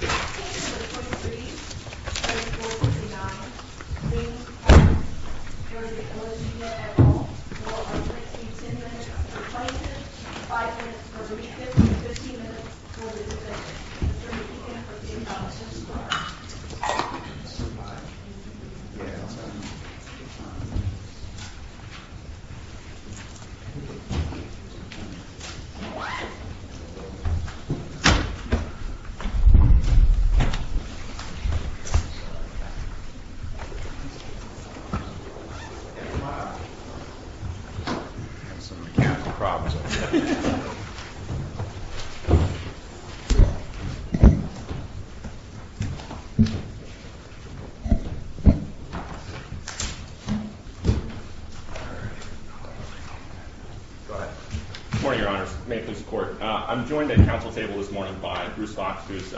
This is the 23rd of April, 2019. We are here at the OSU General Hall. We will be practicing 10 minutes for the plaintiff, 5 minutes for the defendant, and 15 minutes for the defendant. During the weekend, we will be practicing on the 2nd floor. Good morning, Your Honors. May it please the Court. I'm joined at the council table this morning by Bruce Fox, who is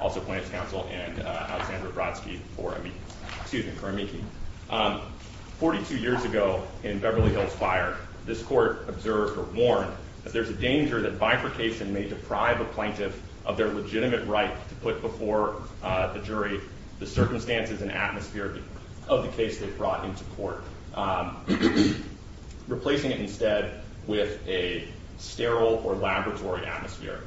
also plaintiff's counsel, and Alexandra Brodsky for amici. 42 years ago, in Beverly Hills Fire, this court observed or warned that there's a danger that bifurcation may deprive a plaintiff of their legitimate right to put before the jury the circumstances and atmosphere of the case they've brought into court. Replacing it instead with a sterile or laboratory atmosphere.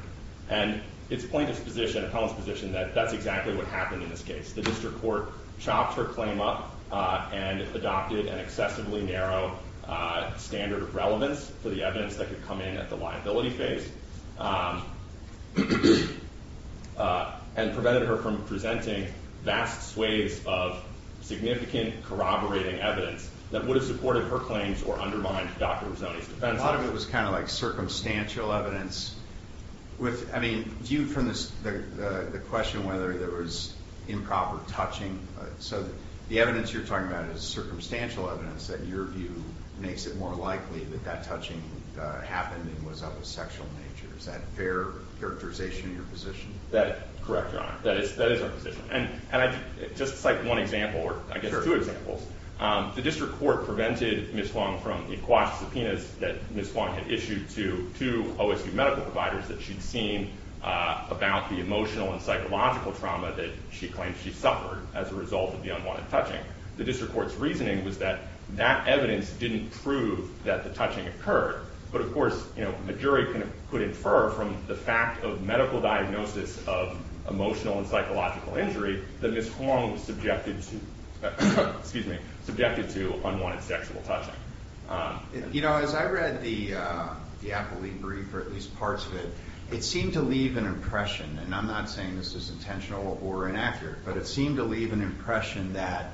And it's plaintiff's position, appellant's position, that that's exactly what happened in this case. The district court chopped her claim up and adopted an excessively narrow standard of relevance for the evidence that could come in at the liability phase. And prevented her from presenting vast swathes of significant corroborating evidence that would have supported her claims or undermined Dr. Mazzoni's defense. I thought it was kind of like circumstantial evidence. I mean, viewed from the question whether there was improper touching. So the evidence you're talking about is circumstantial evidence that your view makes it more likely that that touching happened and was of a sexual nature. Is that fair characterization of your position? That is correct, Your Honor. That is our position. Just cite one example, or I guess two examples. The district court prevented Ms. Hwang from the quasi-subpoenas that Ms. Hwang had issued to OSU medical providers that she'd seen about the emotional and psychological trauma that she claimed she suffered as a result of the unwanted touching. The district court's reasoning was that that evidence didn't prove that the touching occurred. But, of course, a jury could infer from the fact of medical diagnosis of emotional and psychological injury that Ms. Hwang was subjected to unwanted sexual touching. You know, as I read the appellee brief, or at least parts of it, it seemed to leave an impression, and I'm not saying this is intentional or inaccurate, but it seemed to leave an impression that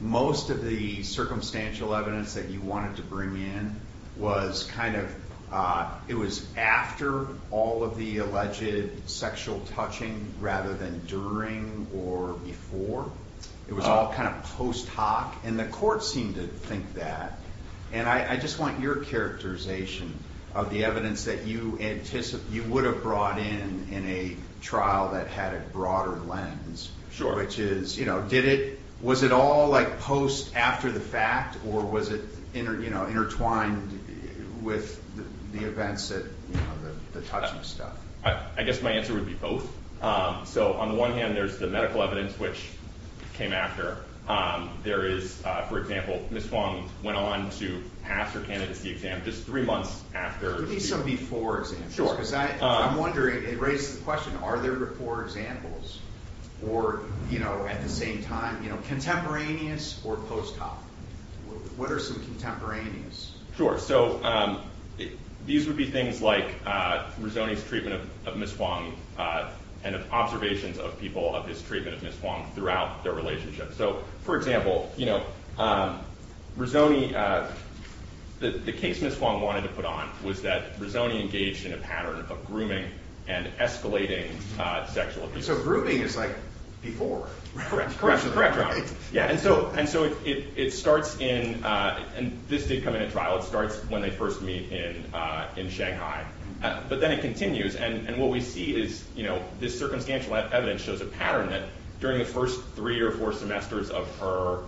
most of the circumstantial evidence that you wanted to bring in was kind of, it was after all of the alleged sexual touching rather than during or before. It was all kind of post hoc, and the court seemed to think that. And I just want your characterization of the evidence that you would have brought in in a trial that had a broader lens. Sure. Which is, you know, did it, was it all like post, after the fact, or was it intertwined with the events that, you know, the touching stuff? I guess my answer would be both. So, on the one hand, there's the medical evidence, which came after. There is, for example, Ms. Hwang went on to pass her candidacy exam just three months after. Could there be some before examples? Sure. Because I'm wondering, it raises the question, are there before examples? Or, you know, at the same time, you know, contemporaneous or post hoc? What are some contemporaneous? Sure. So, these would be things like Rizzoni's treatment of Ms. Hwang and observations of people of his treatment of Ms. Hwang throughout their relationship. So, for example, you know, Rizzoni, the case Ms. Hwang wanted to put on was that Rizzoni engaged in a pattern of grooming and escalating sexual abuse. So, grooming is like before. Correct. Correct. And so, it starts in, and this did come in at trial, it starts when they first meet in Shanghai. But then it continues. And what we see is, you know, this circumstantial evidence shows a pattern that during the first three or four semesters of her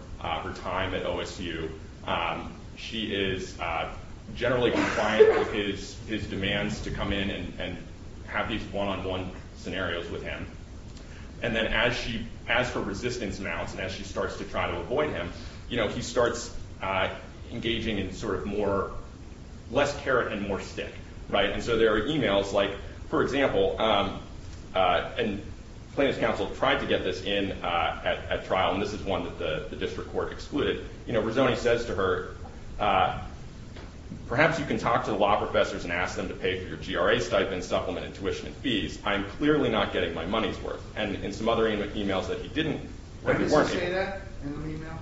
time at OSU, she is generally compliant with his demands to come in and have these one-on-one scenarios with him. And then as her resistance mounts and as she starts to try to avoid him, you know, he starts engaging in sort of more, less carrot and more stick. Right? And so, there are emails like, for example, and plaintiff's counsel tried to get this in at trial, and this is one that the district court excluded. You know, Rizzoni says to her, perhaps you can talk to the law professors and ask them to pay for your GRA stipend, supplement, and tuition and fees. I am clearly not getting my money's worth. And in some other emails that he didn't. When does he say that in an email?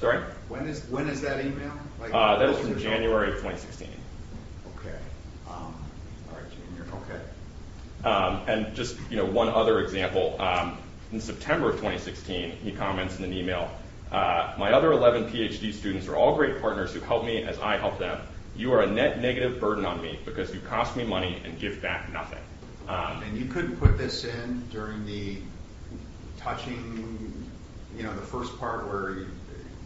Sorry? When is that email? That is from January of 2016. Okay. All right, Junior. Okay. And just, you know, one other example. In September of 2016, he comments in an email, my other 11 PhD students are all great partners who helped me as I helped them. You are a net negative burden on me because you cost me money and give back nothing. And you couldn't put this in during the touching, you know, the first part where you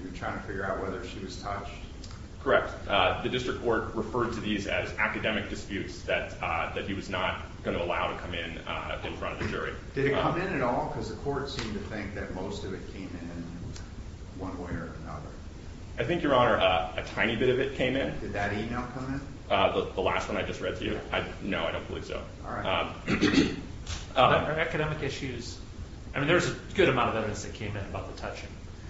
were trying to figure out whether she was touched? The district court referred to these as academic disputes that he was not going to allow to come in in front of the jury. Did it come in at all? Because the court seemed to think that most of it came in one way or another. I think, Your Honor, a tiny bit of it came in. Did that email come in? The last one I just read to you? No, I don't believe so. All right. Are there academic issues? I mean, there's a good amount of evidence that came in about the touching.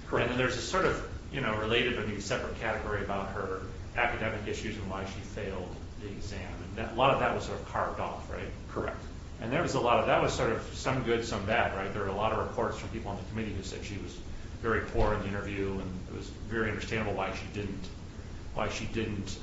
Correct. And there's a sort of, you know, related or maybe separate category about her academic issues and why she failed the exam. A lot of that was sort of carved off, right? Correct. And there was a lot of, that was sort of some good, some bad, right? There were a lot of reports from people on the committee who said she was very poor in the interview and it was very understandable why she didn't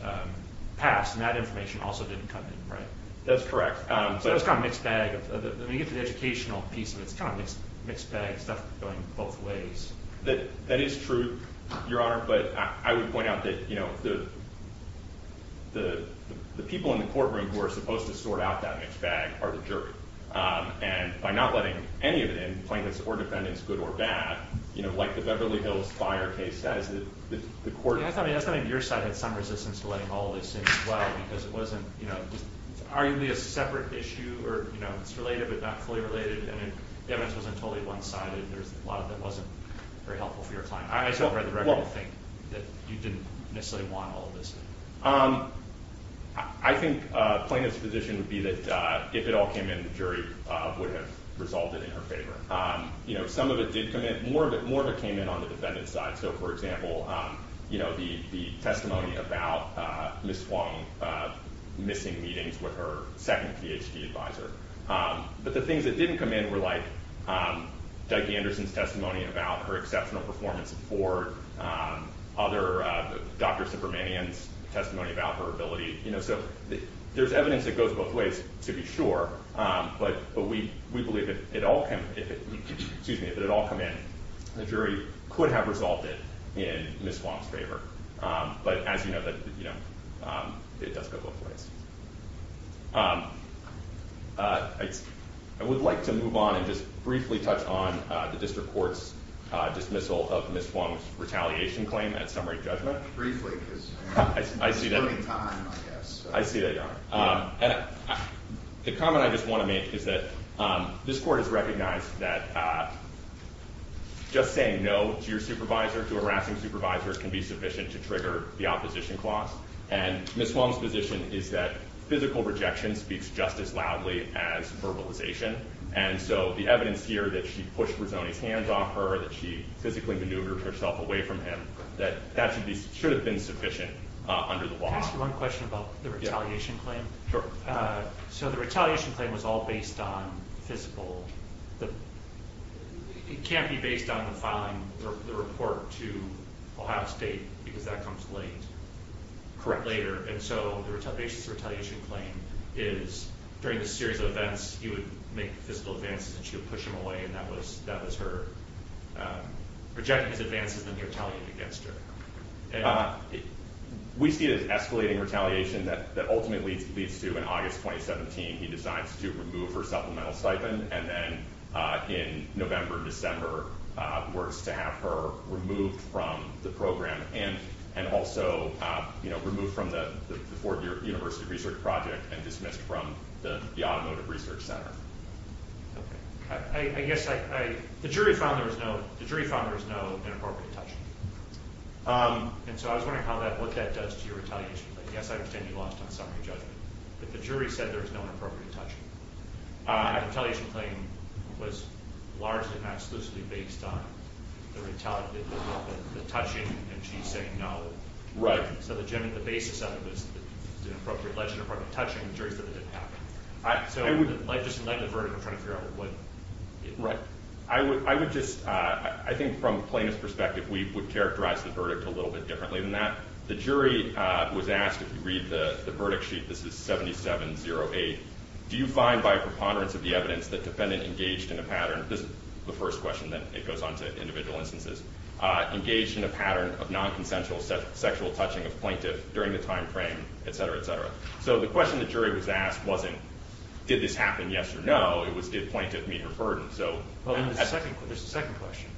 pass. And that information also didn't come in, right? That's correct. So it's kind of a mixed bag. When you get to the educational piece of it, it's kind of a mixed bag, stuff going both ways. That is true, Your Honor, but I would point out that, you know, the people in the courtroom who are supposed to sort out that mixed bag are the jury. And by not letting any of it in, plaintiffs or defendants, good or bad, you know, like the Beverly Hills Fire case, that is the court. I thought maybe your side had some resistance to letting all of this in as well because it wasn't, you know, arguably a separate issue or, you know, it's related but not fully related. And the evidence wasn't totally one-sided. There's a lot that wasn't very helpful for your client. I read the record and think that you didn't necessarily want all of this in. I think plaintiff's position would be that if it all came in, the jury would have resolved it in her favor. You know, some of it did come in. More of it came in on the defendant's side. So, for example, you know, the testimony about Ms. Huang missing meetings with her second Ph.D. advisor. But the things that didn't come in were like Doug Anderson's testimony about her exceptional performance for other, Dr. Subramanian's testimony about her ability. You know, so there's evidence that goes both ways to be sure. But we believe that if it all come in, the jury could have resolved it in Ms. Huang's favor. But as you know, it does go both ways. I would like to move on and just briefly touch on the district court's dismissal of Ms. Huang's retaliation claim at summary judgment. Briefly because we're running out of time, I guess. I see that, Your Honor. The comment I just want to make is that this court has recognized that just saying no to your supervisor, to a harassing supervisor, can be sufficient to trigger the opposition clause. And Ms. Huang's position is that physical rejection speaks just as loudly as verbalization. And so the evidence here that she pushed Rizzoni's hands off her, that she physically maneuvered herself away from him, that should have been sufficient under the law. Can I ask you one question about the retaliation claim? Sure. So the retaliation claim was all based on physical – it can't be based on the filing of the report to Ohio State because that comes late. Correct. Later. And so the retaliation claim is during the series of events, he would make physical advances and she would push him away. And that was her rejecting his advances and then retaliating against her. We see it as escalating retaliation that ultimately leads to, in August 2017, he decides to remove her supplemental stipend. And then in November, December, works to have her removed from the program and also removed from the Ford University Research Project and dismissed from the Automotive Research Center. I guess I – the jury found there was no inappropriate touch. And so I was wondering how that – what that does to your retaliation claim. Yes, I understand you lost on summary judgment. But the jury said there was no inappropriate touching. The retaliation claim was largely and exclusively based on the touching and she saying no. Right. So the basis of it was the appropriate touching and the jury said it didn't happen. So just in light of the verdict, we're trying to figure out what – Right. I would just – I think from plaintiff's perspective, we would characterize the verdict a little bit differently than that. The jury was asked – if you read the verdict sheet, this is 7708. Do you find by preponderance of the evidence that defendant engaged in a pattern – this is the first question, then it goes on to individual instances – engaged in a pattern of nonconsensual sexual touching of plaintiff during the timeframe, et cetera, et cetera. So the question the jury was asked wasn't did this happen, yes or no. It was did plaintiff meet her burden. There's a second question.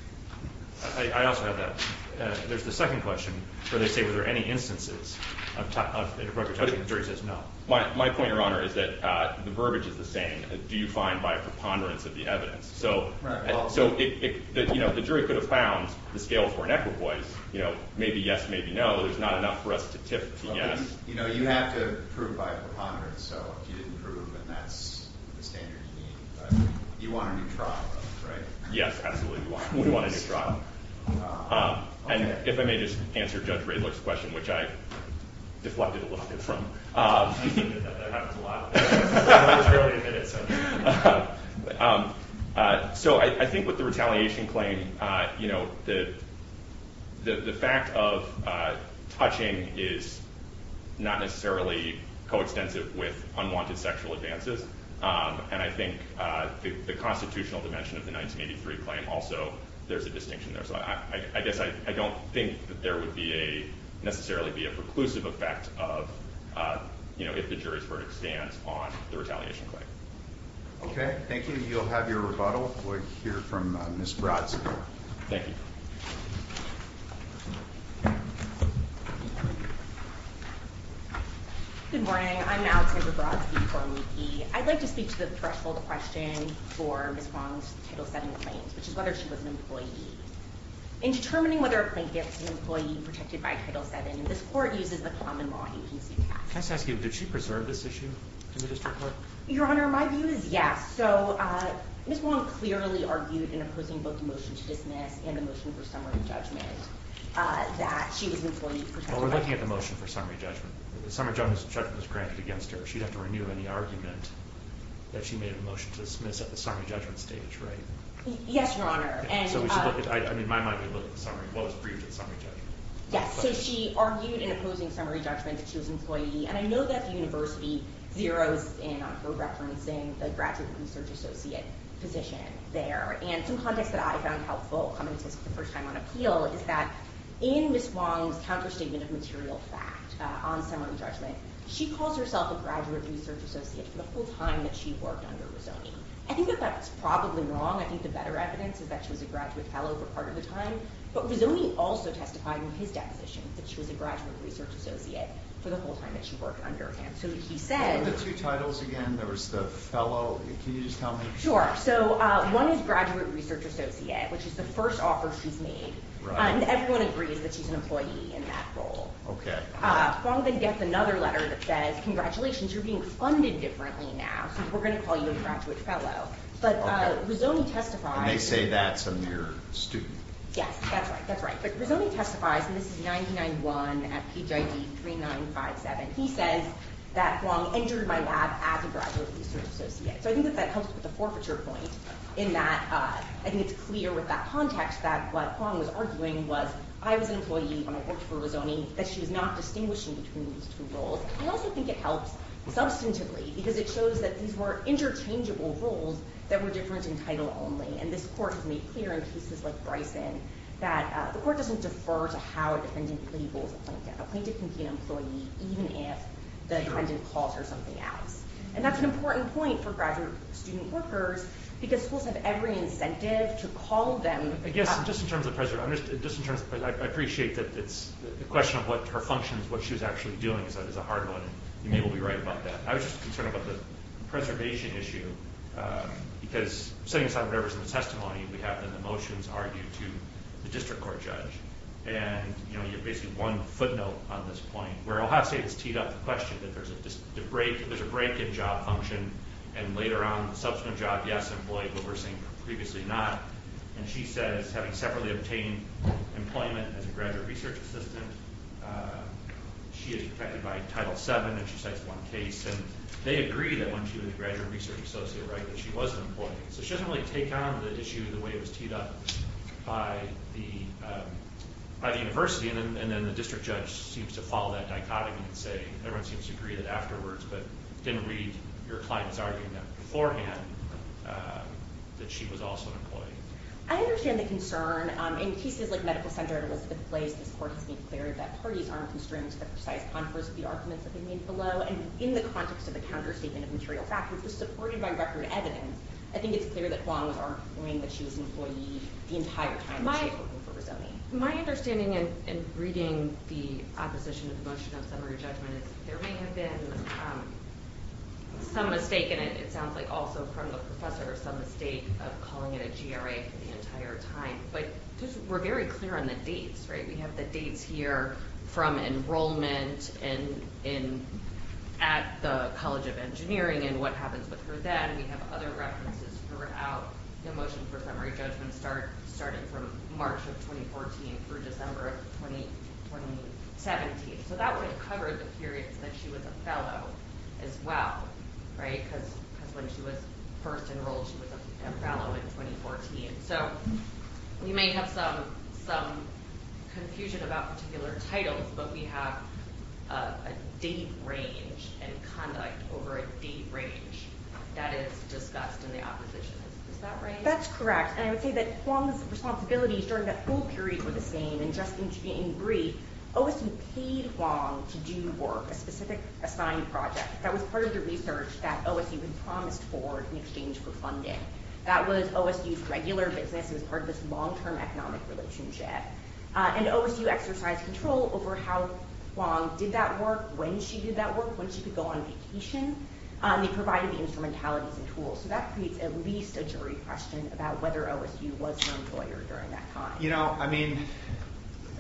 I also have that. There's the second question where they say were there any instances of inappropriate touching and the jury says no. My point, Your Honor, is that the verbiage is the same. Do you find by preponderance of the evidence? So the jury could have found the scales were inequitable. Maybe yes, maybe no. There's not enough for us to tip to yes. You know, you have to prove by preponderance. So if you didn't prove and that's the standard you need, you want a new trial, right? Yes, absolutely. We want a new trial. And if I may just answer Judge Radler's question, which I deflected a little bit from. That happens a lot. So I think with the retaliation claim, you know, the fact of touching is not necessarily coextensive with unwanted sexual advances. And I think the constitutional dimension of the 1983 claim also, there's a distinction there. So I guess I don't think that there would be a necessarily be a preclusive effect of, you know, if the jury's verdict stands on the retaliation claim. Okay, thank you. You'll have your rebuttal. We'll hear from Ms. Brodsky. Thank you. Good morning. I'm Alexander Brodsky. I'd like to speak to the threshold question for Ms. Wong's Title VII claims, which is whether she was an employee. In determining whether a plaintiff is an employee protected by Title VII, this court uses the common law. You can see that. Can I just ask you, did she preserve this issue in the district court? Your Honor, my view is yes. So Ms. Wong clearly argued in opposing both the motion to dismiss and the motion for summary judgment that she was an employee protected by Title VII. Well, we're looking at the motion for summary judgment. The summary judgment was granted against her. She'd have to renew any argument that she made a motion to dismiss at the summary judgment stage, right? Yes, Your Honor. So we should look at, I mean, my mind would look at the summary, what was proved at the summary judgment. Yes. So she argued in opposing summary judgment that she was an employee. And I know that the university zeroes in on co-referencing the graduate research associate position there. And some context that I found helpful coming to this for the first time on appeal is that in Ms. Wong's counterstatement of material fact on summary judgment, she calls herself a graduate research associate for the whole time that she worked under Rizzoni. I think that that's probably wrong. I think the better evidence is that she was a graduate fellow for part of the time. But Rizzoni also testified in his deposition that she was a graduate research associate for the whole time that she worked under him. So he said – In the two titles, again, there was the fellow. Can you just tell me? Sure. So one is graduate research associate, which is the first offer she's made. And everyone agrees that she's an employee in that role. Wong then gets another letter that says, congratulations, you're being funded differently now, so we're going to call you a graduate fellow. Okay. But Rizzoni testified – And they say that's a mere student. Yes, that's right. That's right. But Rizzoni testifies, and this is 991 at PHID 3957. He says that Wong entered my lab as a graduate research associate. So I think that that helps with the forfeiture point in that I think it's clear with that context that what Wong was arguing was I was an employee and I worked for Rizzoni, that she was not distinguishing between these two roles. I also think it helps substantively because it shows that these were interchangeable roles that were different in title only. And this court has made clear in cases like Bryson that the court doesn't defer to how a defendant labels a plaintiff. A plaintiff can be an employee even if the defendant calls her something else. And that's an important point for graduate student workers because schools have every incentive to call them – Yes, just in terms of – I appreciate that it's – the question of what her function is, what she was actually doing is a hard one. You may well be right about that. I was just concerned about the preservation issue because setting aside whatever's in the testimony, we have the motions argued to the district court judge. And you have basically one footnote on this point where Ojasi has teed up the question that there's a break in job function and later on subsequent job, yes, employee, but we're saying previously not. And she says having separately obtained employment as a graduate research assistant, she is protected by Title VII and she cites one case. And they agree that when she was a graduate research associate, right, that she was an employee. So she doesn't really take on the issue the way it was teed up by the university. And then the district judge seems to follow that dichotomy and say everyone seems to agree that afterwards but didn't read your client's argument beforehand that she was also an employee. I understand the concern. In cases like Medical Center at Elizabeth Place, this court has made clear that parties aren't constrained to the precise contours of the arguments that they made below. And in the context of the counterstatement of material fact, which was supported by record evidence, I think it's clear that Juans aren't arguing that she was an employee the entire time she was working for Rizzoni. My understanding in reading the opposition to the motion of summary judgment is there may have been some mistake, and it sounds like also from the professor, some mistake of calling it a GRA for the entire time. But we're very clear on the dates, right? We have the dates here from enrollment and at the College of Engineering and what happens with her then. We have other references throughout the motion for summary judgment starting from March of 2014 through December of 2017. So that would cover the periods that she was a fellow as well, right, because when she was first enrolled, she was a fellow in 2014. So we may have some confusion about particular titles, but we have a date range and conduct over a date range. That is discussed in the opposition. Is that right? That's correct. And I would say that Juan's responsibilities during that full period were the same. And just in brief, OSU paid Juan to do work, a specific assigned project. That was part of the research that OSU had promised for in exchange for funding. That was OSU's regular business. It was part of this long-term economic relationship. And OSU exercised control over how long did that work, when she did that work, when she could go on vacation. They provided the instrumentalities and tools. So that creates at least a jury question about whether OSU was her employer during that time. You know, I mean,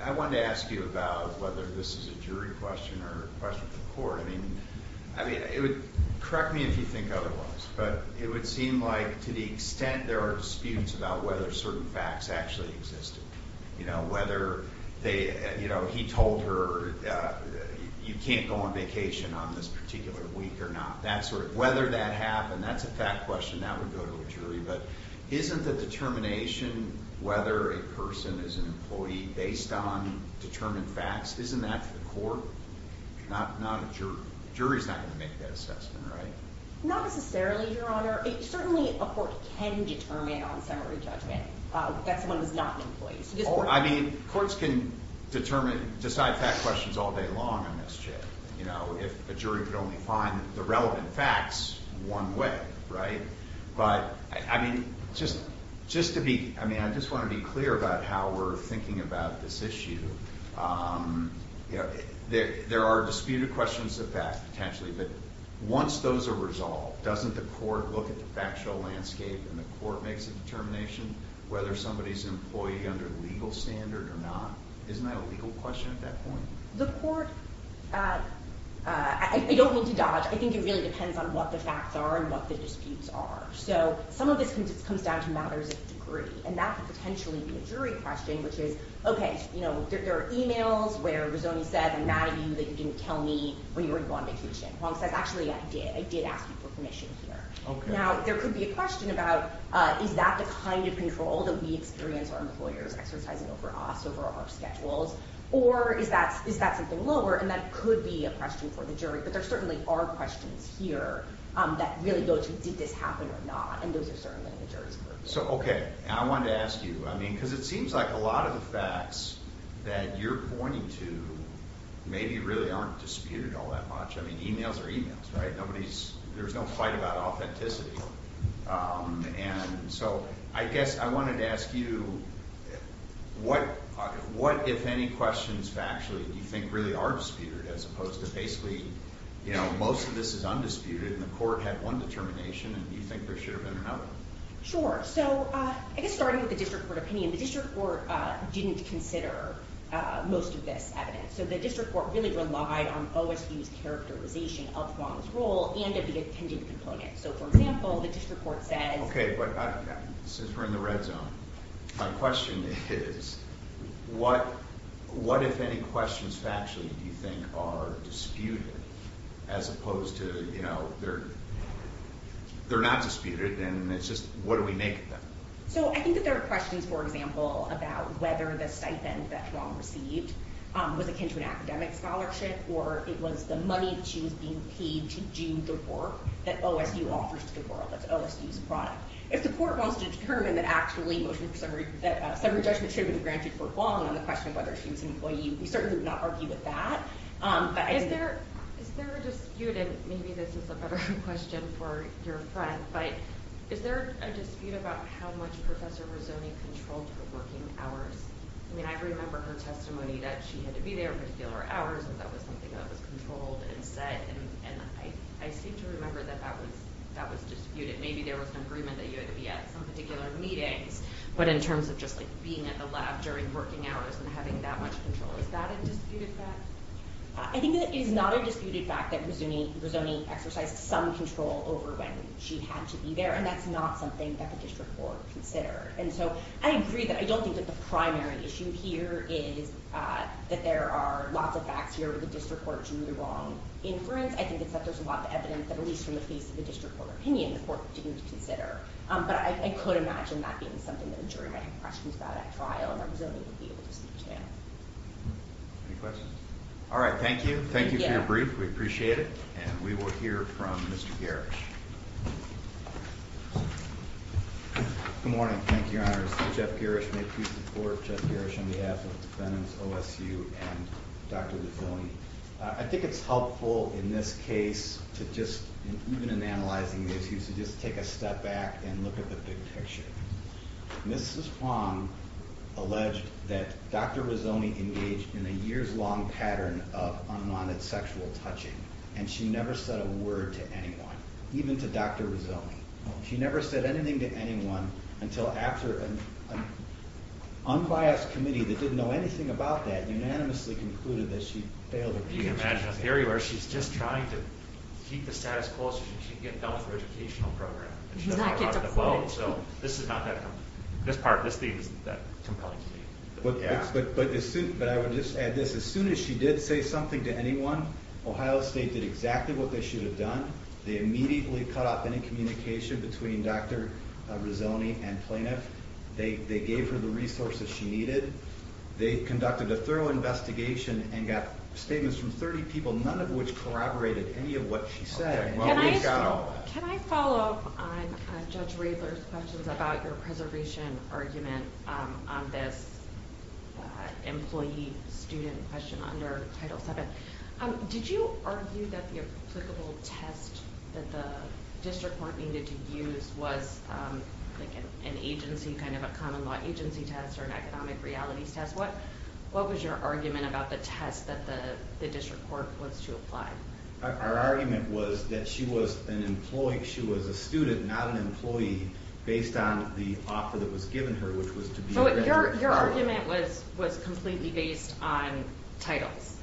I wanted to ask you about whether this is a jury question or a question for the court. I mean, correct me if you think otherwise, but it would seem like to the extent there are disputes about whether certain facts actually existed. You know, whether he told her you can't go on vacation on this particular week or not. Whether that happened, that's a fact question. That would go to a jury. But isn't the determination whether a person is an employee based on determined facts, isn't that for the court? Not a jury. Jury's not going to make that assessment, right? Not necessarily, Your Honor. Certainly a court can determine on summary judgment that someone was not an employee. I mean, courts can determine, decide fact questions all day long in this jail. You know, if a jury could only find the relevant facts one way, right? But, I mean, just to be, I mean, I just want to be clear about how we're thinking about this issue. You know, there are disputed questions of fact potentially, but once those are resolved, doesn't the court look at the factual landscape and the court makes a determination whether somebody's an employee under legal standard or not? Isn't that a legal question at that point? The court, I don't mean to dodge, I think it really depends on what the facts are and what the disputes are. So some of this comes down to matters of degree, and that could potentially be a jury question, which is, okay, you know, there are emails where Rizzoni said, I'm mad at you that you didn't tell me when you were on vacation. Hwang says, actually, I did. I did ask you for permission here. Now, there could be a question about, is that the kind of control that we experience our employers exercising over us, over our schedules? Or is that something lower, and that could be a question for the jury. But there certainly are questions here that really go to, did this happen or not? And those are certainly in the jury's court. So, okay, I wanted to ask you, I mean, because it seems like a lot of the facts that you're pointing to maybe really aren't disputed all that much. I mean, emails are emails, right? There's no fight about authenticity. And so I guess I wanted to ask you, what, if any, questions factually do you think really are disputed, as opposed to basically, you know, most of this is undisputed and the court had one determination and you think there should have been another? Sure. So, I guess starting with the district court opinion, the district court didn't consider most of this evidence. So the district court really relied on OSU's characterization of Hwang's role and of the appending component. So, for example, the district court says... Okay, but since we're in the red zone, my question is, what, if any, questions factually do you think are disputed, as opposed to, you know, they're not disputed and it's just, what do we make of them? So, I think that there are questions, for example, about whether the stipend that Hwang received was akin to an academic scholarship or it was the money that she was being paid to do the work that OSU offers to the world. That's OSU's product. If the court wants to determine that actually motion for summary, that summary judgment should have been granted for Hwang on the question of whether she was an employee, we certainly would not argue with that. Is there a dispute, and maybe this is a better question for your friend, but is there a dispute about how much Professor Rizzoni controlled her working hours? I mean, I remember her testimony that she had to be there at particular hours and that was something that was controlled and said and I seem to remember that that was disputed. Maybe there was an agreement that you had to be at some particular meetings, but in terms of just, like, being at the lab during working hours and having that much control, is that a disputed fact? I think that it is not a disputed fact that Rizzoni exercised some control over when she had to be there and that's not something that the district court considered. And so, I agree that I don't think that the primary issue here is that there are lots of facts here where the district court drew the wrong inference. I think it's that there's a lot of evidence that, at least from the face of the district court opinion, the court didn't consider. But I could imagine that being something that, during any questions about that trial, that Rizzoni would be able to speak to. Any questions? All right, thank you. Thank you for your brief. We appreciate it. And we will hear from Mr. Gerrish. Good morning. Thank you, Your Honor. This is Jeff Gerrish. May it please the court, Jeff Gerrish, on behalf of defendants, OSU, and Dr. Rizzoni. I think it's helpful in this case to just, even in analyzing these issues, to just take a step back and look at the big picture. Mrs. Fong alleged that Dr. Rizzoni engaged in a years-long pattern of unwanted sexual touching and she never said a word to anyone, even to Dr. Rizzoni. She never said anything to anyone until after an unbiased committee that didn't know anything about that and they unanimously concluded that she'd failed her duty. Can you imagine a theory where she's just trying to keep the status quo so she can get a better educational program? Exactly. So this is not that, this part, this theme is not that compelling to me. But I would just add this. As soon as she did say something to anyone, Ohio State did exactly what they should have done. They immediately cut off any communication between Dr. Rizzoni and plaintiff. They gave her the resources she needed. They conducted a thorough investigation and got statements from 30 people, none of which corroborated any of what she said. Can I follow up on Judge Riddler's questions about your preservation argument on this employee-student question under Title VII? Did you argue that the applicable test that the district court needed to use was an agency, kind of a common law agency test or an economic realities test? What was your argument about the test that the district court was to apply? Our argument was that she was an employee, she was a student, not an employee, based on the offer that was given her, which was to be a graduate. Your argument was completely based on titles?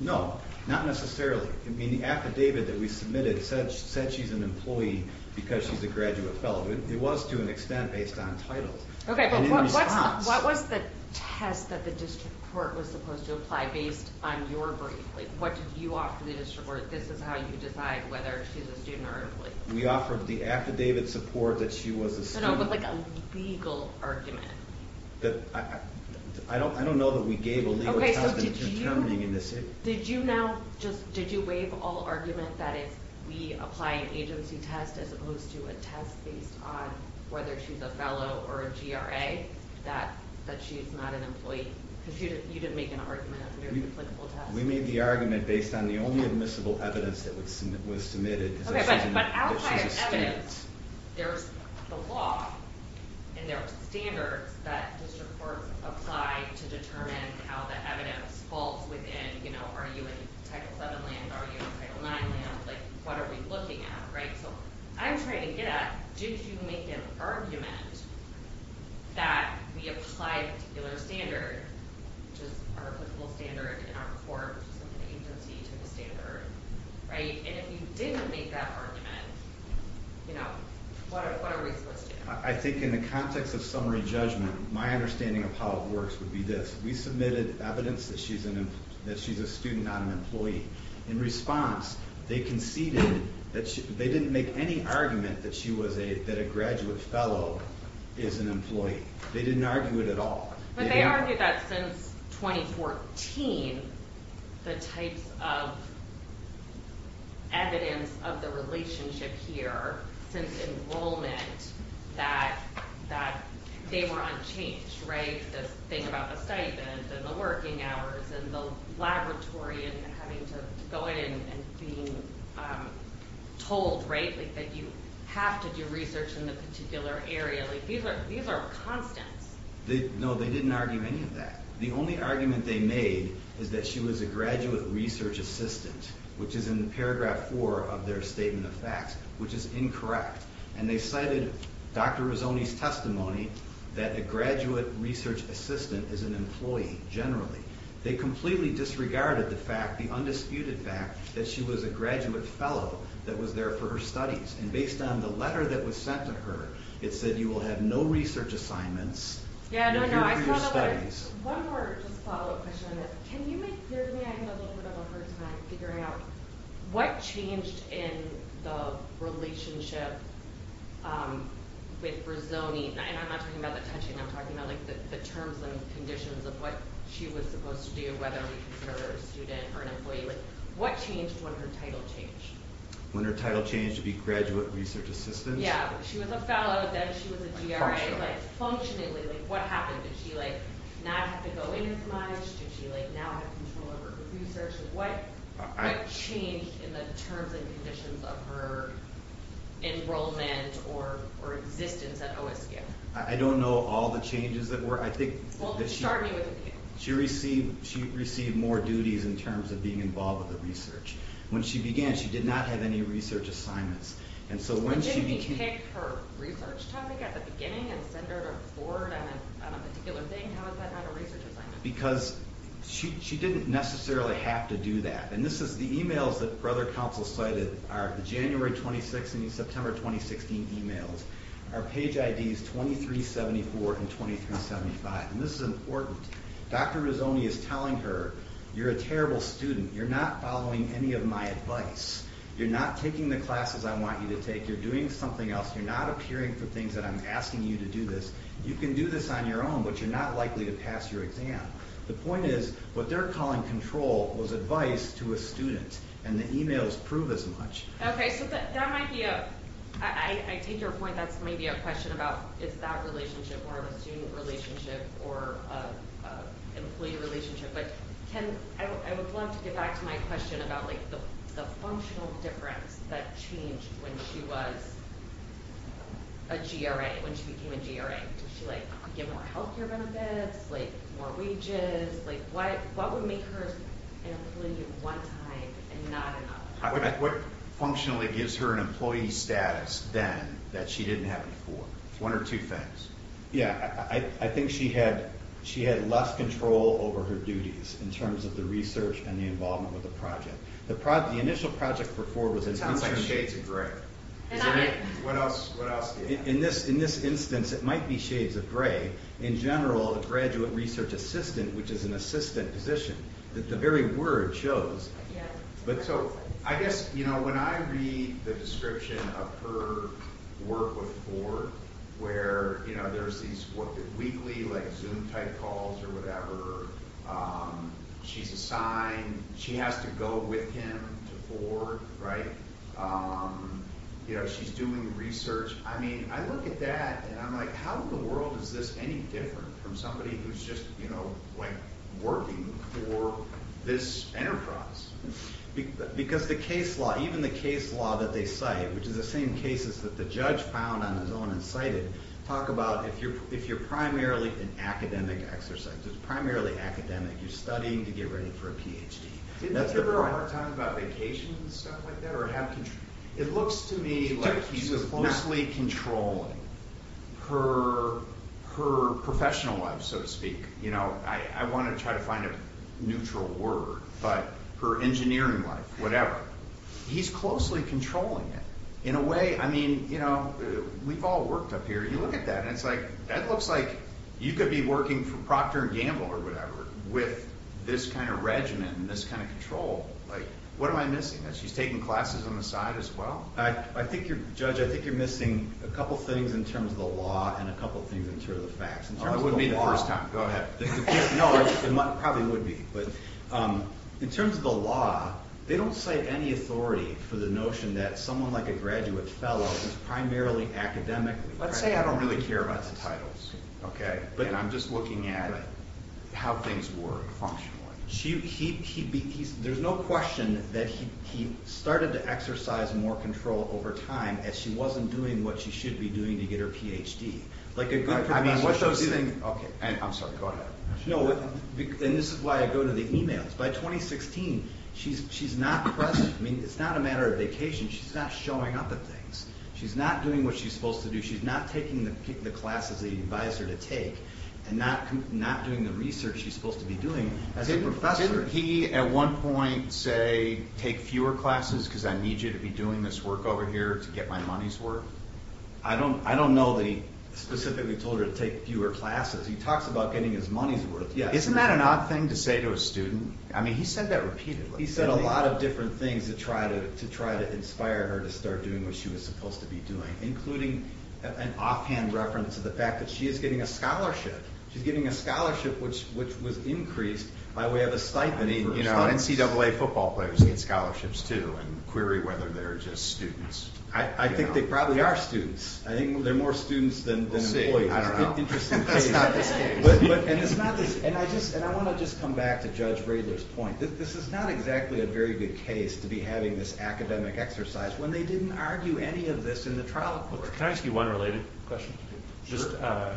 No, not necessarily. The affidavit that we submitted said she's an employee because she's a graduate fellow. It was, to an extent, based on titles. What was the test that the district court was supposed to apply based on your brief? What did you offer the district court? This is how you decide whether she's a student or an employee. We offered the affidavit support that she was a student. But like a legal argument. I don't know that we gave a legal testament to determining in this case. Did you now just, did you waive all argument that if we apply an agency test as opposed to a test based on whether she's a fellow or a GRA, that she's not an employee? Because you didn't make an argument. We made the argument based on the only admissible evidence that was submitted. But outside of evidence, there's the law and there are standards that district courts apply to determine how the evidence falls within. Are you in Title VII land? Are you in Title IX land? What are we looking at? I'm trying to get at, did you make an argument that we apply a particular standard, which is our applicable standard in our court, which is an agency to the standard? And if you didn't make that argument, what are we supposed to do? I think in the context of summary judgment, my understanding of how it works would be this. We submitted evidence that she's a student, not an employee. In response, they conceded that they didn't make any argument that a graduate fellow is an employee. They didn't argue it at all. But they argued that since 2014, the types of evidence of the relationship here since enrollment, that they were unchanged. The thing about the stipend and the working hours and the laboratory and having to go in and being told that you have to do research in a particular area. These are constants. No, they didn't argue any of that. The only argument they made is that she was a graduate research assistant, which is in paragraph four of their statement of facts, which is incorrect. And they cited Dr. Rizzoni's testimony that a graduate research assistant is an employee, generally. They completely disregarded the fact, the undisputed fact, that she was a graduate fellow that was there for her studies. And based on the letter that was sent to her, it said you will have no research assignments. One more follow-up question on this. Can you make clear to me, I have a little bit of a hard time figuring out, what changed in the relationship with Rizzoni? And I'm not talking about the touching, I'm talking about the terms and conditions of what she was supposed to do, whether we consider her a student or an employee. What changed when her title changed? When her title changed to be graduate research assistant? Yeah, she was a fellow, then she was a G.R.A. Functionally. Functionally, like what happened? Did she not have to go in as much? Did she now have control over her research? What changed in the terms and conditions of her enrollment or existence at OSU? I don't know all the changes that were. Well, start me with you. She received more duties in terms of being involved with the research. When she began, she did not have any research assignments. But didn't he pick her research topic at the beginning and send her to Ford on a particular thing? How is that not a research assignment? Because she didn't necessarily have to do that. And this is the emails that Brother Counsel cited are the January 26th and September 2016 emails. Our page ID is 2374 and 2375. And this is important. Dr. Rizzoni is telling her, you're a terrible student. You're not following any of my advice. You're not taking the classes I want you to take. You're doing something else. You're not appearing for things that I'm asking you to do this. You can do this on your own, but you're not likely to pass your exam. The point is what they're calling control was advice to a student, and the emails prove as much. Okay, so that might be a – I take your point. That's maybe a question about is that relationship more of a student relationship or an employee relationship. But, Ken, I would love to get back to my question about, like, the functional difference that changed when she was a GRA, when she became a GRA. Did she, like, get more health care benefits, like more wages? Like what would make her an employee one time and not another? What functionally gives her an employee status then that she didn't have before? One or two things. Yeah, I think she had less control over her duties in terms of the research and the involvement with the project. The initial project for Ford was an internship. It sounds like shades of gray. Is that it? What else do you have? In this instance, it might be shades of gray. In general, a graduate research assistant, which is an assistant position, the very word shows. I guess, you know, when I read the description of her work with Ford, where, you know, there's these weekly, like, Zoom type calls or whatever, she's assigned, she has to go with him to Ford, right? You know, she's doing research. I mean, I look at that and I'm like how in the world is this any different from somebody who's just, you know, working for this enterprise? Because the case law, even the case law that they cite, which is the same cases that the judge found on his own and cited, talk about if you're primarily an academic exercise, if you're primarily academic, you're studying to get ready for a Ph.D. Didn't he talk about vacations and stuff like that? It looks to me like he's closely controlling her professional life, so to speak. You know, I want to try to find a neutral word, but her engineering life, whatever. He's closely controlling it. In a way, I mean, you know, we've all worked up here. You look at that and it's like, that looks like you could be working for Procter & Gamble or whatever with this kind of regimen, this kind of control. Like, what am I missing? She's taking classes on the side as well. I think you're, Judge, I think you're missing a couple things in terms of the law and a couple things in terms of the facts. It wouldn't be the first time. Go ahead. No, it probably would be. In terms of the law, they don't cite any authority for the notion that someone like a graduate fellow who's primarily academic. Let's say I don't really care about the titles, okay, and I'm just looking at how things work functionally. There's no question that he started to exercise more control over time as she wasn't doing what she should be doing to get her Ph.D. I mean, what those things... I'm sorry, go ahead. No, and this is why I go to the emails. By 2016, she's not present. I mean, it's not a matter of vacation. She's not showing up at things. She's not doing what she's supposed to do. She's not taking the classes that you advise her to take and not doing the research she's supposed to be doing as a professor. Didn't he at one point say, take fewer classes because I need you to be doing this work over here to get my money's worth? I don't know that he specifically told her to take fewer classes. He talks about getting his money's worth. Isn't that an odd thing to say to a student? I mean, he said that repeatedly. He said a lot of different things to try to inspire her to start doing what she was supposed to be doing, including an offhand reference to the fact that she is getting a scholarship. She's getting a scholarship which was increased by way of a stipend. I mean, NCAA football players get scholarships, too, and query whether they're just students. I think they probably are students. I think they're more students than employees. We'll see. I don't know. Interesting case. That's not the case. And I want to just come back to Judge Radler's point. This is not exactly a very good case to be having this academic exercise when they didn't argue any of this in the trial court. Can I ask you one related question? Sure.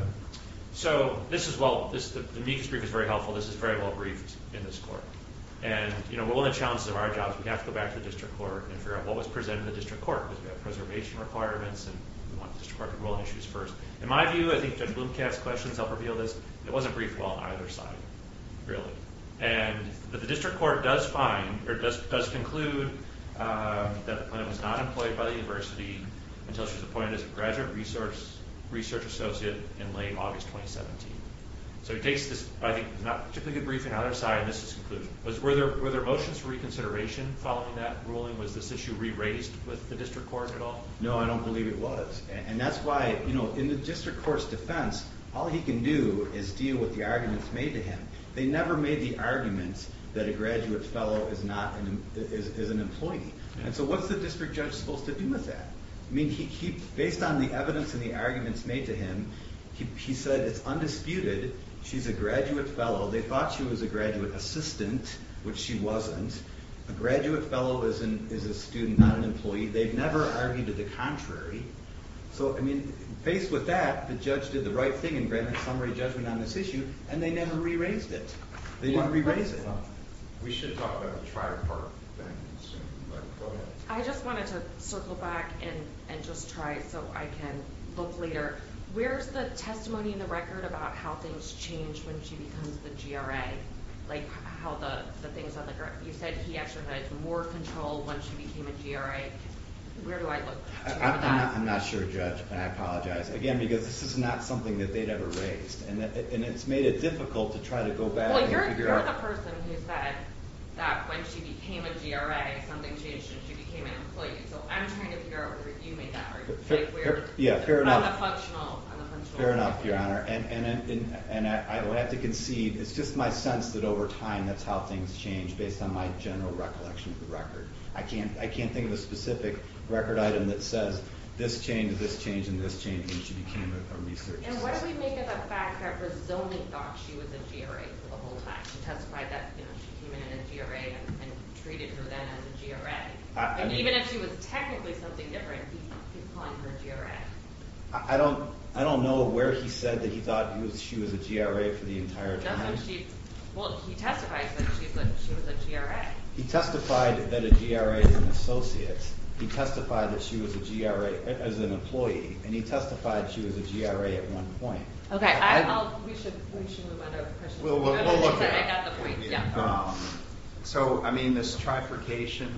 So this is well, the Meek's brief is very helpful. This is very well briefed in this court. And one of the challenges of our job is we have to go back to the district court and figure out what was presented in the district court, because we have preservation requirements and we want the district court to rule on issues first. In my view, I think Judge Blomkamp's questions help reveal this, it wasn't briefed well on either side, really. And the district court does find, or does conclude, that the plaintiff was not employed by the university until she was appointed as a graduate research associate in late August 2017. So he takes this, I think, not particularly good briefing on either side, and this is his conclusion. Were there motions for reconsideration following that ruling? Was this issue re-raised with the district court at all? No, I don't believe it was. And that's why, you know, in the district court's defense, all he can do is deal with the arguments made to him. They never made the arguments that a graduate fellow is an employee. And so what's the district judge supposed to do with that? I mean, based on the evidence and the arguments made to him, he said it's undisputed, she's a graduate fellow. They thought she was a graduate assistant, which she wasn't. A graduate fellow is a student, not an employee. They've never argued to the contrary. So, I mean, faced with that, the judge did the right thing in granting a summary judgment on this issue, and they never re-raised it. They didn't re-raise it. We should talk about the tri-part thing soon. Go ahead. I just wanted to circle back and just try so I can look later. Where's the testimony in the record about how things change when she becomes the GRA? Like how the things on the ground. You said he actually had more control when she became a GRA. Where do I look to have that? I'm not sure, Judge, and I apologize. Again, because this is not something that they'd ever raised, and it's made it difficult to try to go back and figure out. Well, you're the person who said that when she became a GRA, something changed and she became an employee. So I'm trying to figure out whether you made that argument. I'm the functional employee. Fair enough, Your Honor. And I would have to concede, it's just my sense that over time that's how things change based on my general recollection of the record. I can't think of a specific record item that says this changed, this changed, and this changed when she became a research associate. And what do we make of the fact that Rizzoni thought she was a GRA for the whole time? She testified that she came in as a GRA and treated her then as a GRA. And even if she was technically something different, he's calling her a GRA. I don't know where he said that he thought she was a GRA for the entire time. Well, he testified that she was a GRA. He testified that a GRA is an associate. He testified that she was a GRA as an employee. And he testified she was a GRA at one point. We should move on to another question. We'll look at it. So, I mean, this trifurcation,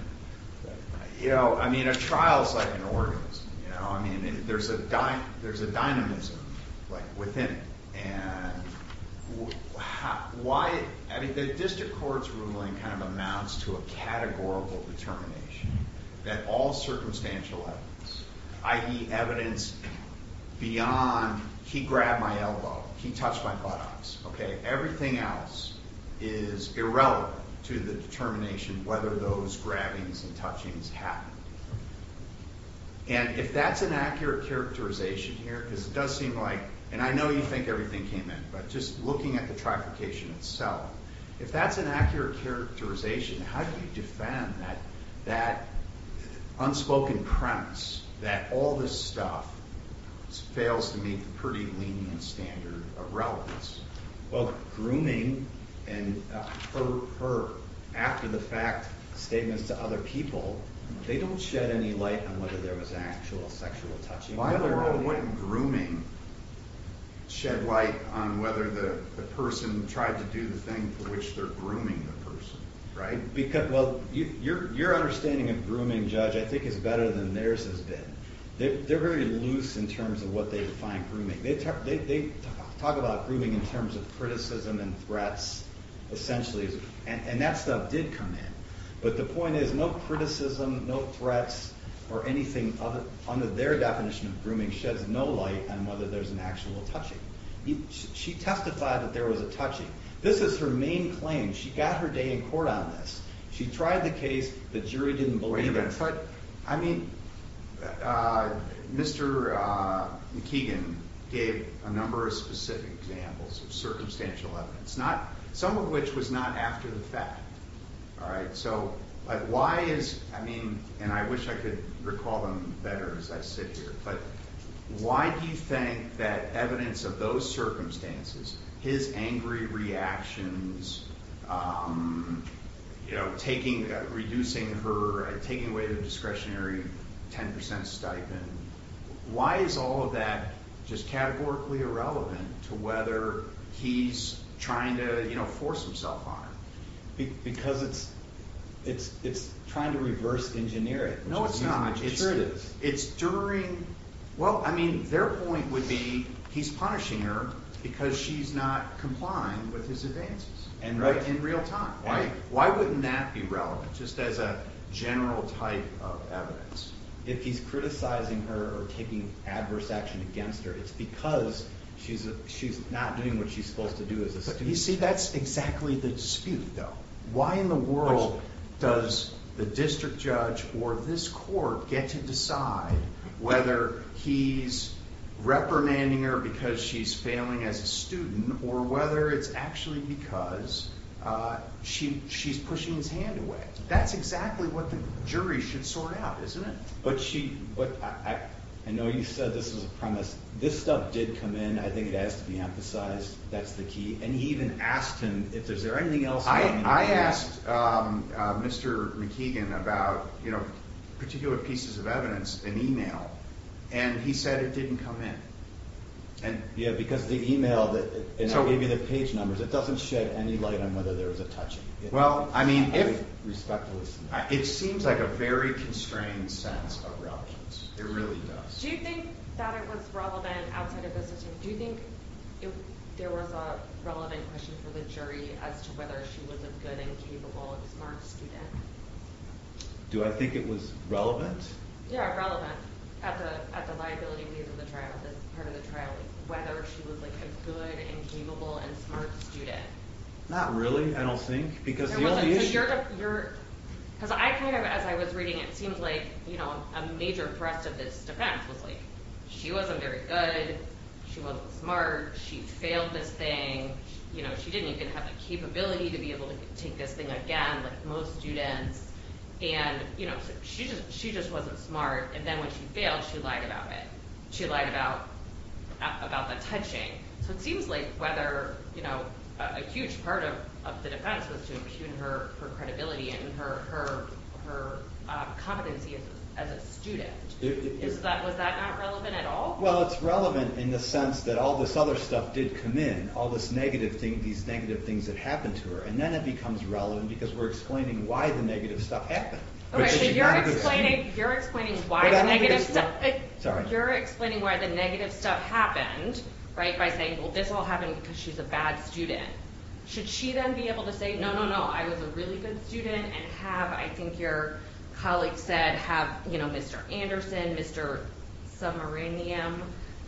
you know, I mean, a trial is like an organism. You know, I mean, there's a dynamism, like, within it. And why, I mean, the district court's ruling kind of amounts to a categorical determination that all circumstantial evidence, i.e., evidence beyond he grabbed my elbow, he touched my buttocks, okay, everything else is irrelevant to the determination whether those grabbings and touchings happened. And if that's an accurate characterization here, because it does seem like, and I know you think everything came in, but just looking at the trifurcation itself, if that's an accurate characterization, how do you defend that unspoken premise that all this stuff fails to meet the pretty lenient standard of relevance? Well, grooming and her, after the fact, statements to other people, they don't shed any light on whether there was actual sexual touching. Why in the world wouldn't grooming shed light on whether the person tried to do the thing for which they're grooming the person, right? Because, well, your understanding of grooming, Judge, I think is better than theirs has been. They're very loose in terms of what they define grooming. They talk about grooming in terms of criticism and threats, essentially, and that stuff did come in. But the point is, no criticism, no threats, or anything under their definition of grooming sheds no light on whether there's an actual touching. She testified that there was a touching. This is her main claim. She got her day in court on this. She tried the case. The jury didn't believe it. Wait a minute. I mean, Mr. McKeegan gave a number of specific examples of circumstantial evidence, some of which was not after the fact, all right? So why is, I mean, and I wish I could recall them better as I sit here, but why do you think that evidence of those circumstances, his angry reactions, you know, reducing her, taking away the discretionary 10% stipend, why is all of that just categorically irrelevant to whether he's trying to, you know, force himself on her? Because it's trying to reverse engineer it. No, it's not. It sure is. It's during, well, I mean, their point would be he's punishing her because she's not complying with his advances in real time. Why wouldn't that be relevant, just as a general type of evidence? If he's criticizing her or taking adverse action against her, it's because she's not doing what she's supposed to do as a student. You see, that's exactly the dispute, though. Why in the world does the district judge or this court get to decide whether he's reprimanding her because she's failing as a student or whether it's actually because she's pushing his hand away? That's exactly what the jury should sort out, isn't it? But she, I know you said this was a premise. This stuff did come in. I think it has to be emphasized. That's the key. And he even asked him if there's anything else. I asked Mr. McKeegan about, you know, particular pieces of evidence in e-mail, and he said it didn't come in. Yeah, because the e-mail that gave you the page numbers, it doesn't shed any light on whether there was a touching. Well, I mean, it seems like a very constrained sense of relevance. It really does. Do you think that it was relevant outside of the system? Do you think there was a relevant question for the jury as to whether she was a good and capable and smart student? Do I think it was relevant? Yeah, relevant at the liability piece of the trial, this part of the trial, whether she was, like, a good and capable and smart student. Not really, I don't think, because the only issue— Because I kind of, as I was reading it, it seems like, you know, a major thrust of this defense was, like, she wasn't very good. She wasn't smart. She failed this thing. You know, she didn't even have the capability to be able to take this thing again like most students. And, you know, she just wasn't smart. And then when she failed, she lied about it. She lied about the touching. So it seems like whether, you know, a huge part of the defense was to impugn her credibility and her competency as a student. Was that not relevant at all? Well, it's relevant in the sense that all this other stuff did come in, all these negative things that happened to her. And then it becomes relevant because we're explaining why the negative stuff happened. Okay, so you're explaining why the negative stuff happened, right, by saying, well, this all happened because she's a bad student. Should she then be able to say, no, no, no, I was a really good student and have, I think your colleague said, have, you know, Mr. Anderson, Mr. Submarinium,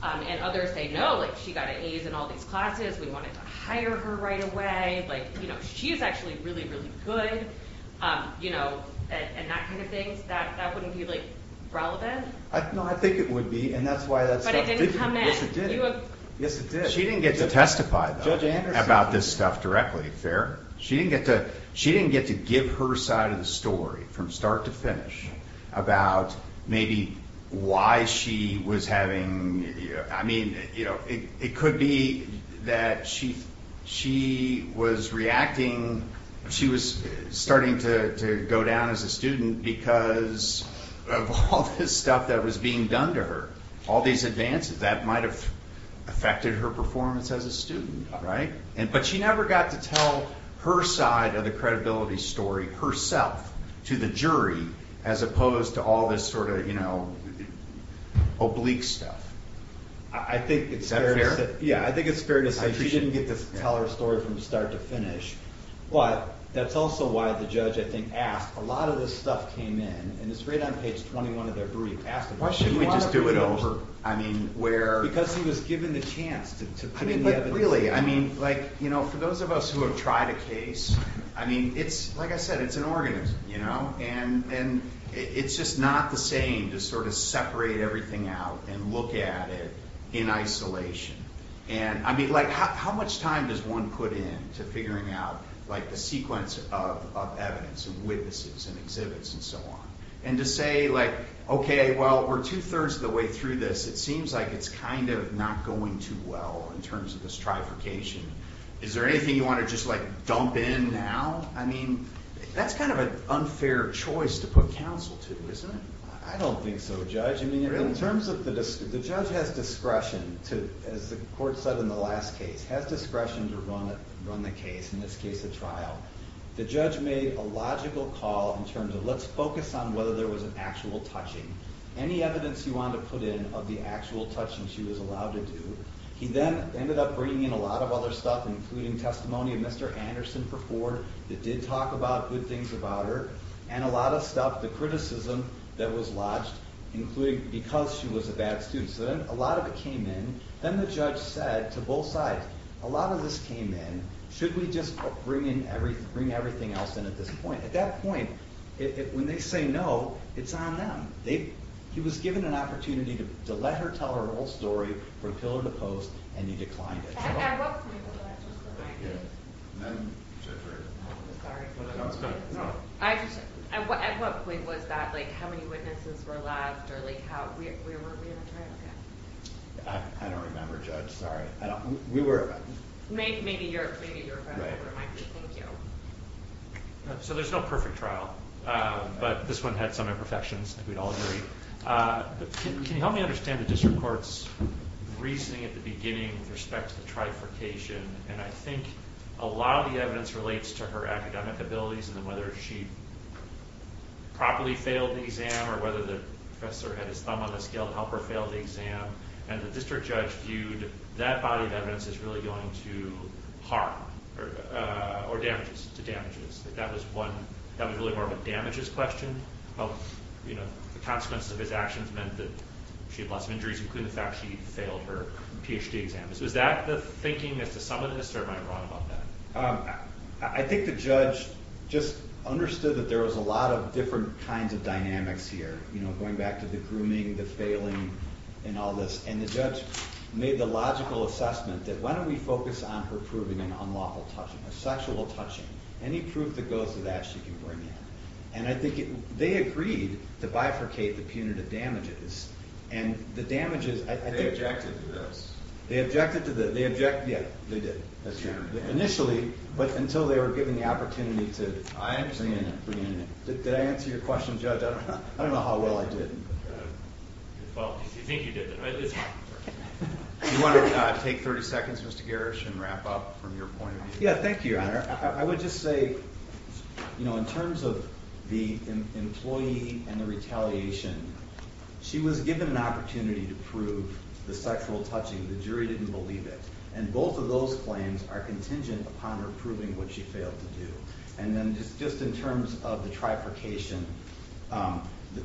and others say, no, like, she got an A's in all these classes. We wanted to hire her right away. Like, you know, she's actually really, really good. You know, and that kind of thing, that wouldn't be, like, relevant. No, I think it would be. And that's why that stuff didn't come in. Yes, it did. She didn't get to testify about this stuff directly, fair. She didn't get to give her side of the story from start to finish about maybe why she was having, I mean, you know, it could be that she was reacting. She was starting to go down as a student because of all this stuff that was being done to her, all these advances that might have affected her performance as a student. But she never got to tell her side of the credibility story herself to the jury, as opposed to all this sort of, you know, oblique stuff. I think it's fair. Yeah, I think it's fair to say she didn't get to tell her story from start to finish. But that's also why the judge, I think, asked. A lot of this stuff came in, and it's right on page 21 of their brief. Why shouldn't we just do it over? I mean, where? Because he was given the chance to put in the evidence. I mean, but really, I mean, like, you know, for those of us who have tried a case, I mean, it's, like I said, it's an organism, you know? And it's just not the same to sort of separate everything out and look at it in isolation. And, I mean, like, how much time does one put in to figuring out, like, the sequence of evidence and witnesses and exhibits and so on? And to say, like, okay, well, we're two-thirds of the way through this. It seems like it's kind of not going too well in terms of this trifurcation. Is there anything you want to just, like, dump in now? I mean, that's kind of an unfair choice to put counsel to, isn't it? I don't think so, Judge. I mean, in terms of the judge has discretion to, as the court said in the last case, has discretion to run the case, in this case a trial. The judge made a logical call in terms of let's focus on whether there was an actual touching. Any evidence you want to put in of the actual touching she was allowed to do. He then ended up bringing in a lot of other stuff, including testimony of Mr. Anderson for Ford that did talk about good things about her. And a lot of stuff, the criticism that was lodged, including because she was a bad student. So then a lot of it came in. Then the judge said to both sides, a lot of this came in. Should we just bring everything else in at this point? At that point, when they say no, it's on them. He was given an opportunity to let her tell her whole story from pillar to post, and he declined it. At what point was that? How many witnesses were left? I don't remember, Judge. Maybe you're better. Thank you. So there's no perfect trial. But this one had some imperfections. We'd all agree. Can you help me understand the district court's reasoning at the beginning with respect to the trifurcation? And I think a lot of the evidence relates to her academic abilities and whether she properly failed the exam or whether the professor had his thumb on the scale to help her fail the exam. And the district judge viewed that body of evidence as really going to harm or damages to damages. That was really more of a damages question. The consequences of his actions meant that she had lots of injuries, including the fact she failed her PhD exam. So is that the thinking as to some of this, or am I wrong about that? I think the judge just understood that there was a lot of different kinds of dynamics here, going back to the grooming, the failing, and all this. And the judge made the logical assessment that why don't we focus on her proving an unlawful touching, a sexual touching. Any proof that goes to that, she can bring in. And I think they agreed to bifurcate the punitive damages. And the damages… They objected to this. They objected to the… Yeah, they did. Initially, but until they were given the opportunity to… I understand. Did I answer your question, Judge? I don't know how well I did. Well, I think you did. Do you want to take 30 seconds, Mr. Garish, and wrap up from your point of view? Yeah, thank you, Your Honor. I would just say, you know, in terms of the employee and the retaliation, she was given an opportunity to prove the sexual touching. The jury didn't believe it. And both of those claims are contingent upon her proving what she failed to do. And then just in terms of the trifurcation,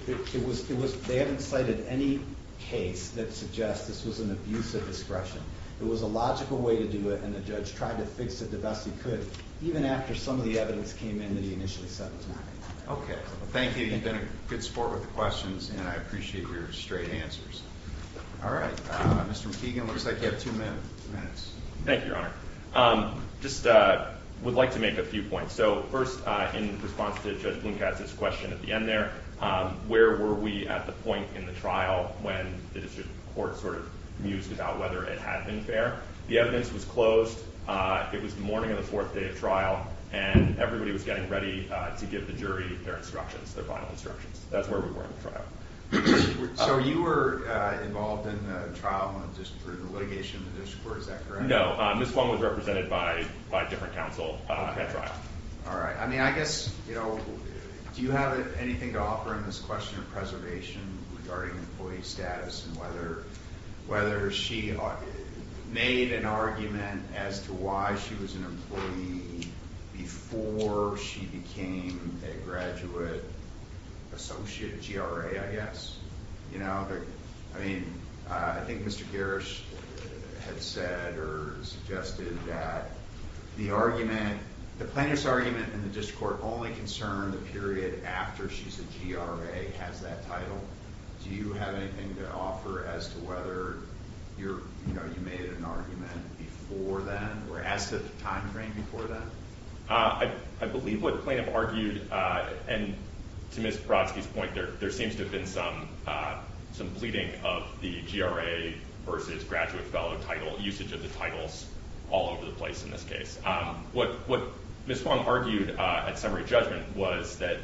it was… They haven't cited any case that suggests this was an abuse of discretion. It was a logical way to do it, and the judge tried to fix it the best he could, even after some of the evidence came in that he initially said was not right. Okay. Thank you. You've been a good sport with the questions, and I appreciate your straight answers. All right. Mr. McKeegan, it looks like you have two minutes. Thank you, Your Honor. I just would like to make a few points. So first, in response to Judge Blomkast's question at the end there, where were we at the point in the trial when the district court sort of mused about whether it had been fair? The evidence was closed. It was the morning of the fourth day of trial, and everybody was getting ready to give the jury their instructions, their final instructions. That's where we were in the trial. So you were involved in the trial for the litigation of the district court, is that correct? No. Ms. Blomkast was represented by a different counsel at trial. All right. I mean, I guess, you know, do you have anything to offer in this question of preservation regarding employee status and whether she made an argument as to why she was an employee before she became a graduate associate, GRA, I guess? You know, I mean, I think Mr. Garrish had said or suggested that the argument, the plaintiff's argument in the district court only concerned the period after she's a GRA, has that title. Do you have anything to offer as to whether, you know, you made an argument before then or as to the time frame before then? I believe what the plaintiff argued, and to Ms. Brodsky's point, there seems to have been some pleading of the GRA versus graduate fellow title, usage of the titles all over the place in this case. What Ms. Blomkast argued at summary judgment was that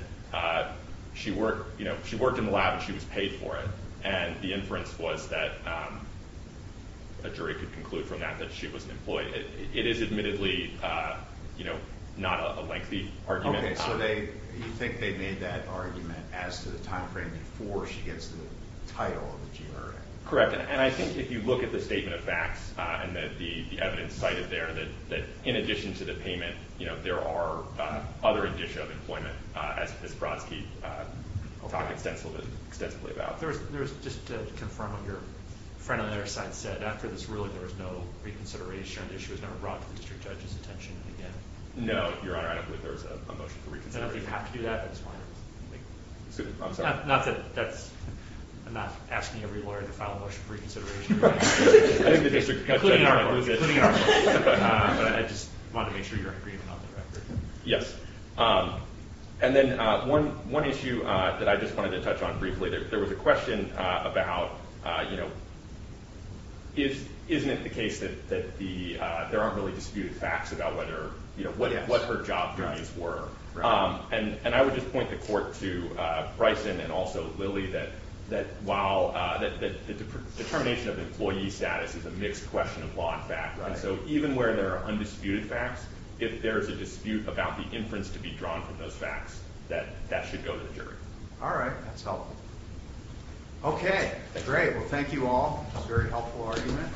she worked in the lab and she was paid for it. And the inference was that a jury could conclude from that that she was an employee. It is admittedly, you know, not a lengthy argument. Okay. So you think they made that argument as to the time frame before she gets the title of the GRA? Correct. And I think if you look at the statement of facts and the evidence cited there, that in addition to the payment, you know, there are other indicia of employment, as Ms. Brodsky talked extensively about. There was just to confirm what your friend on the other side said. After this ruling, there was no reconsideration. The issue was never brought to the district judge's attention again. No, Your Honor. I don't believe there was a motion for reconsideration. And if you have to do that, that's fine. I'm sorry. Not that that's – I'm not asking every lawyer to file a motion for reconsideration. I think the district judge might lose it. Including our court. Including our court. But I just wanted to make sure you're in agreement on the record. Yes. And then one issue that I just wanted to touch on briefly. There was a question about, you know, isn't it the case that there aren't really disputed facts about what her job journeys were? And I would just point the court to Bryson and also Lily that while the determination of employee status is a mixed question of law and fact. So even where there are undisputed facts, if there is a dispute about the inference to be drawn from those facts, that should go to the jury. All right. That's helpful. Okay. Great. Well, thank you all. A very helpful argument.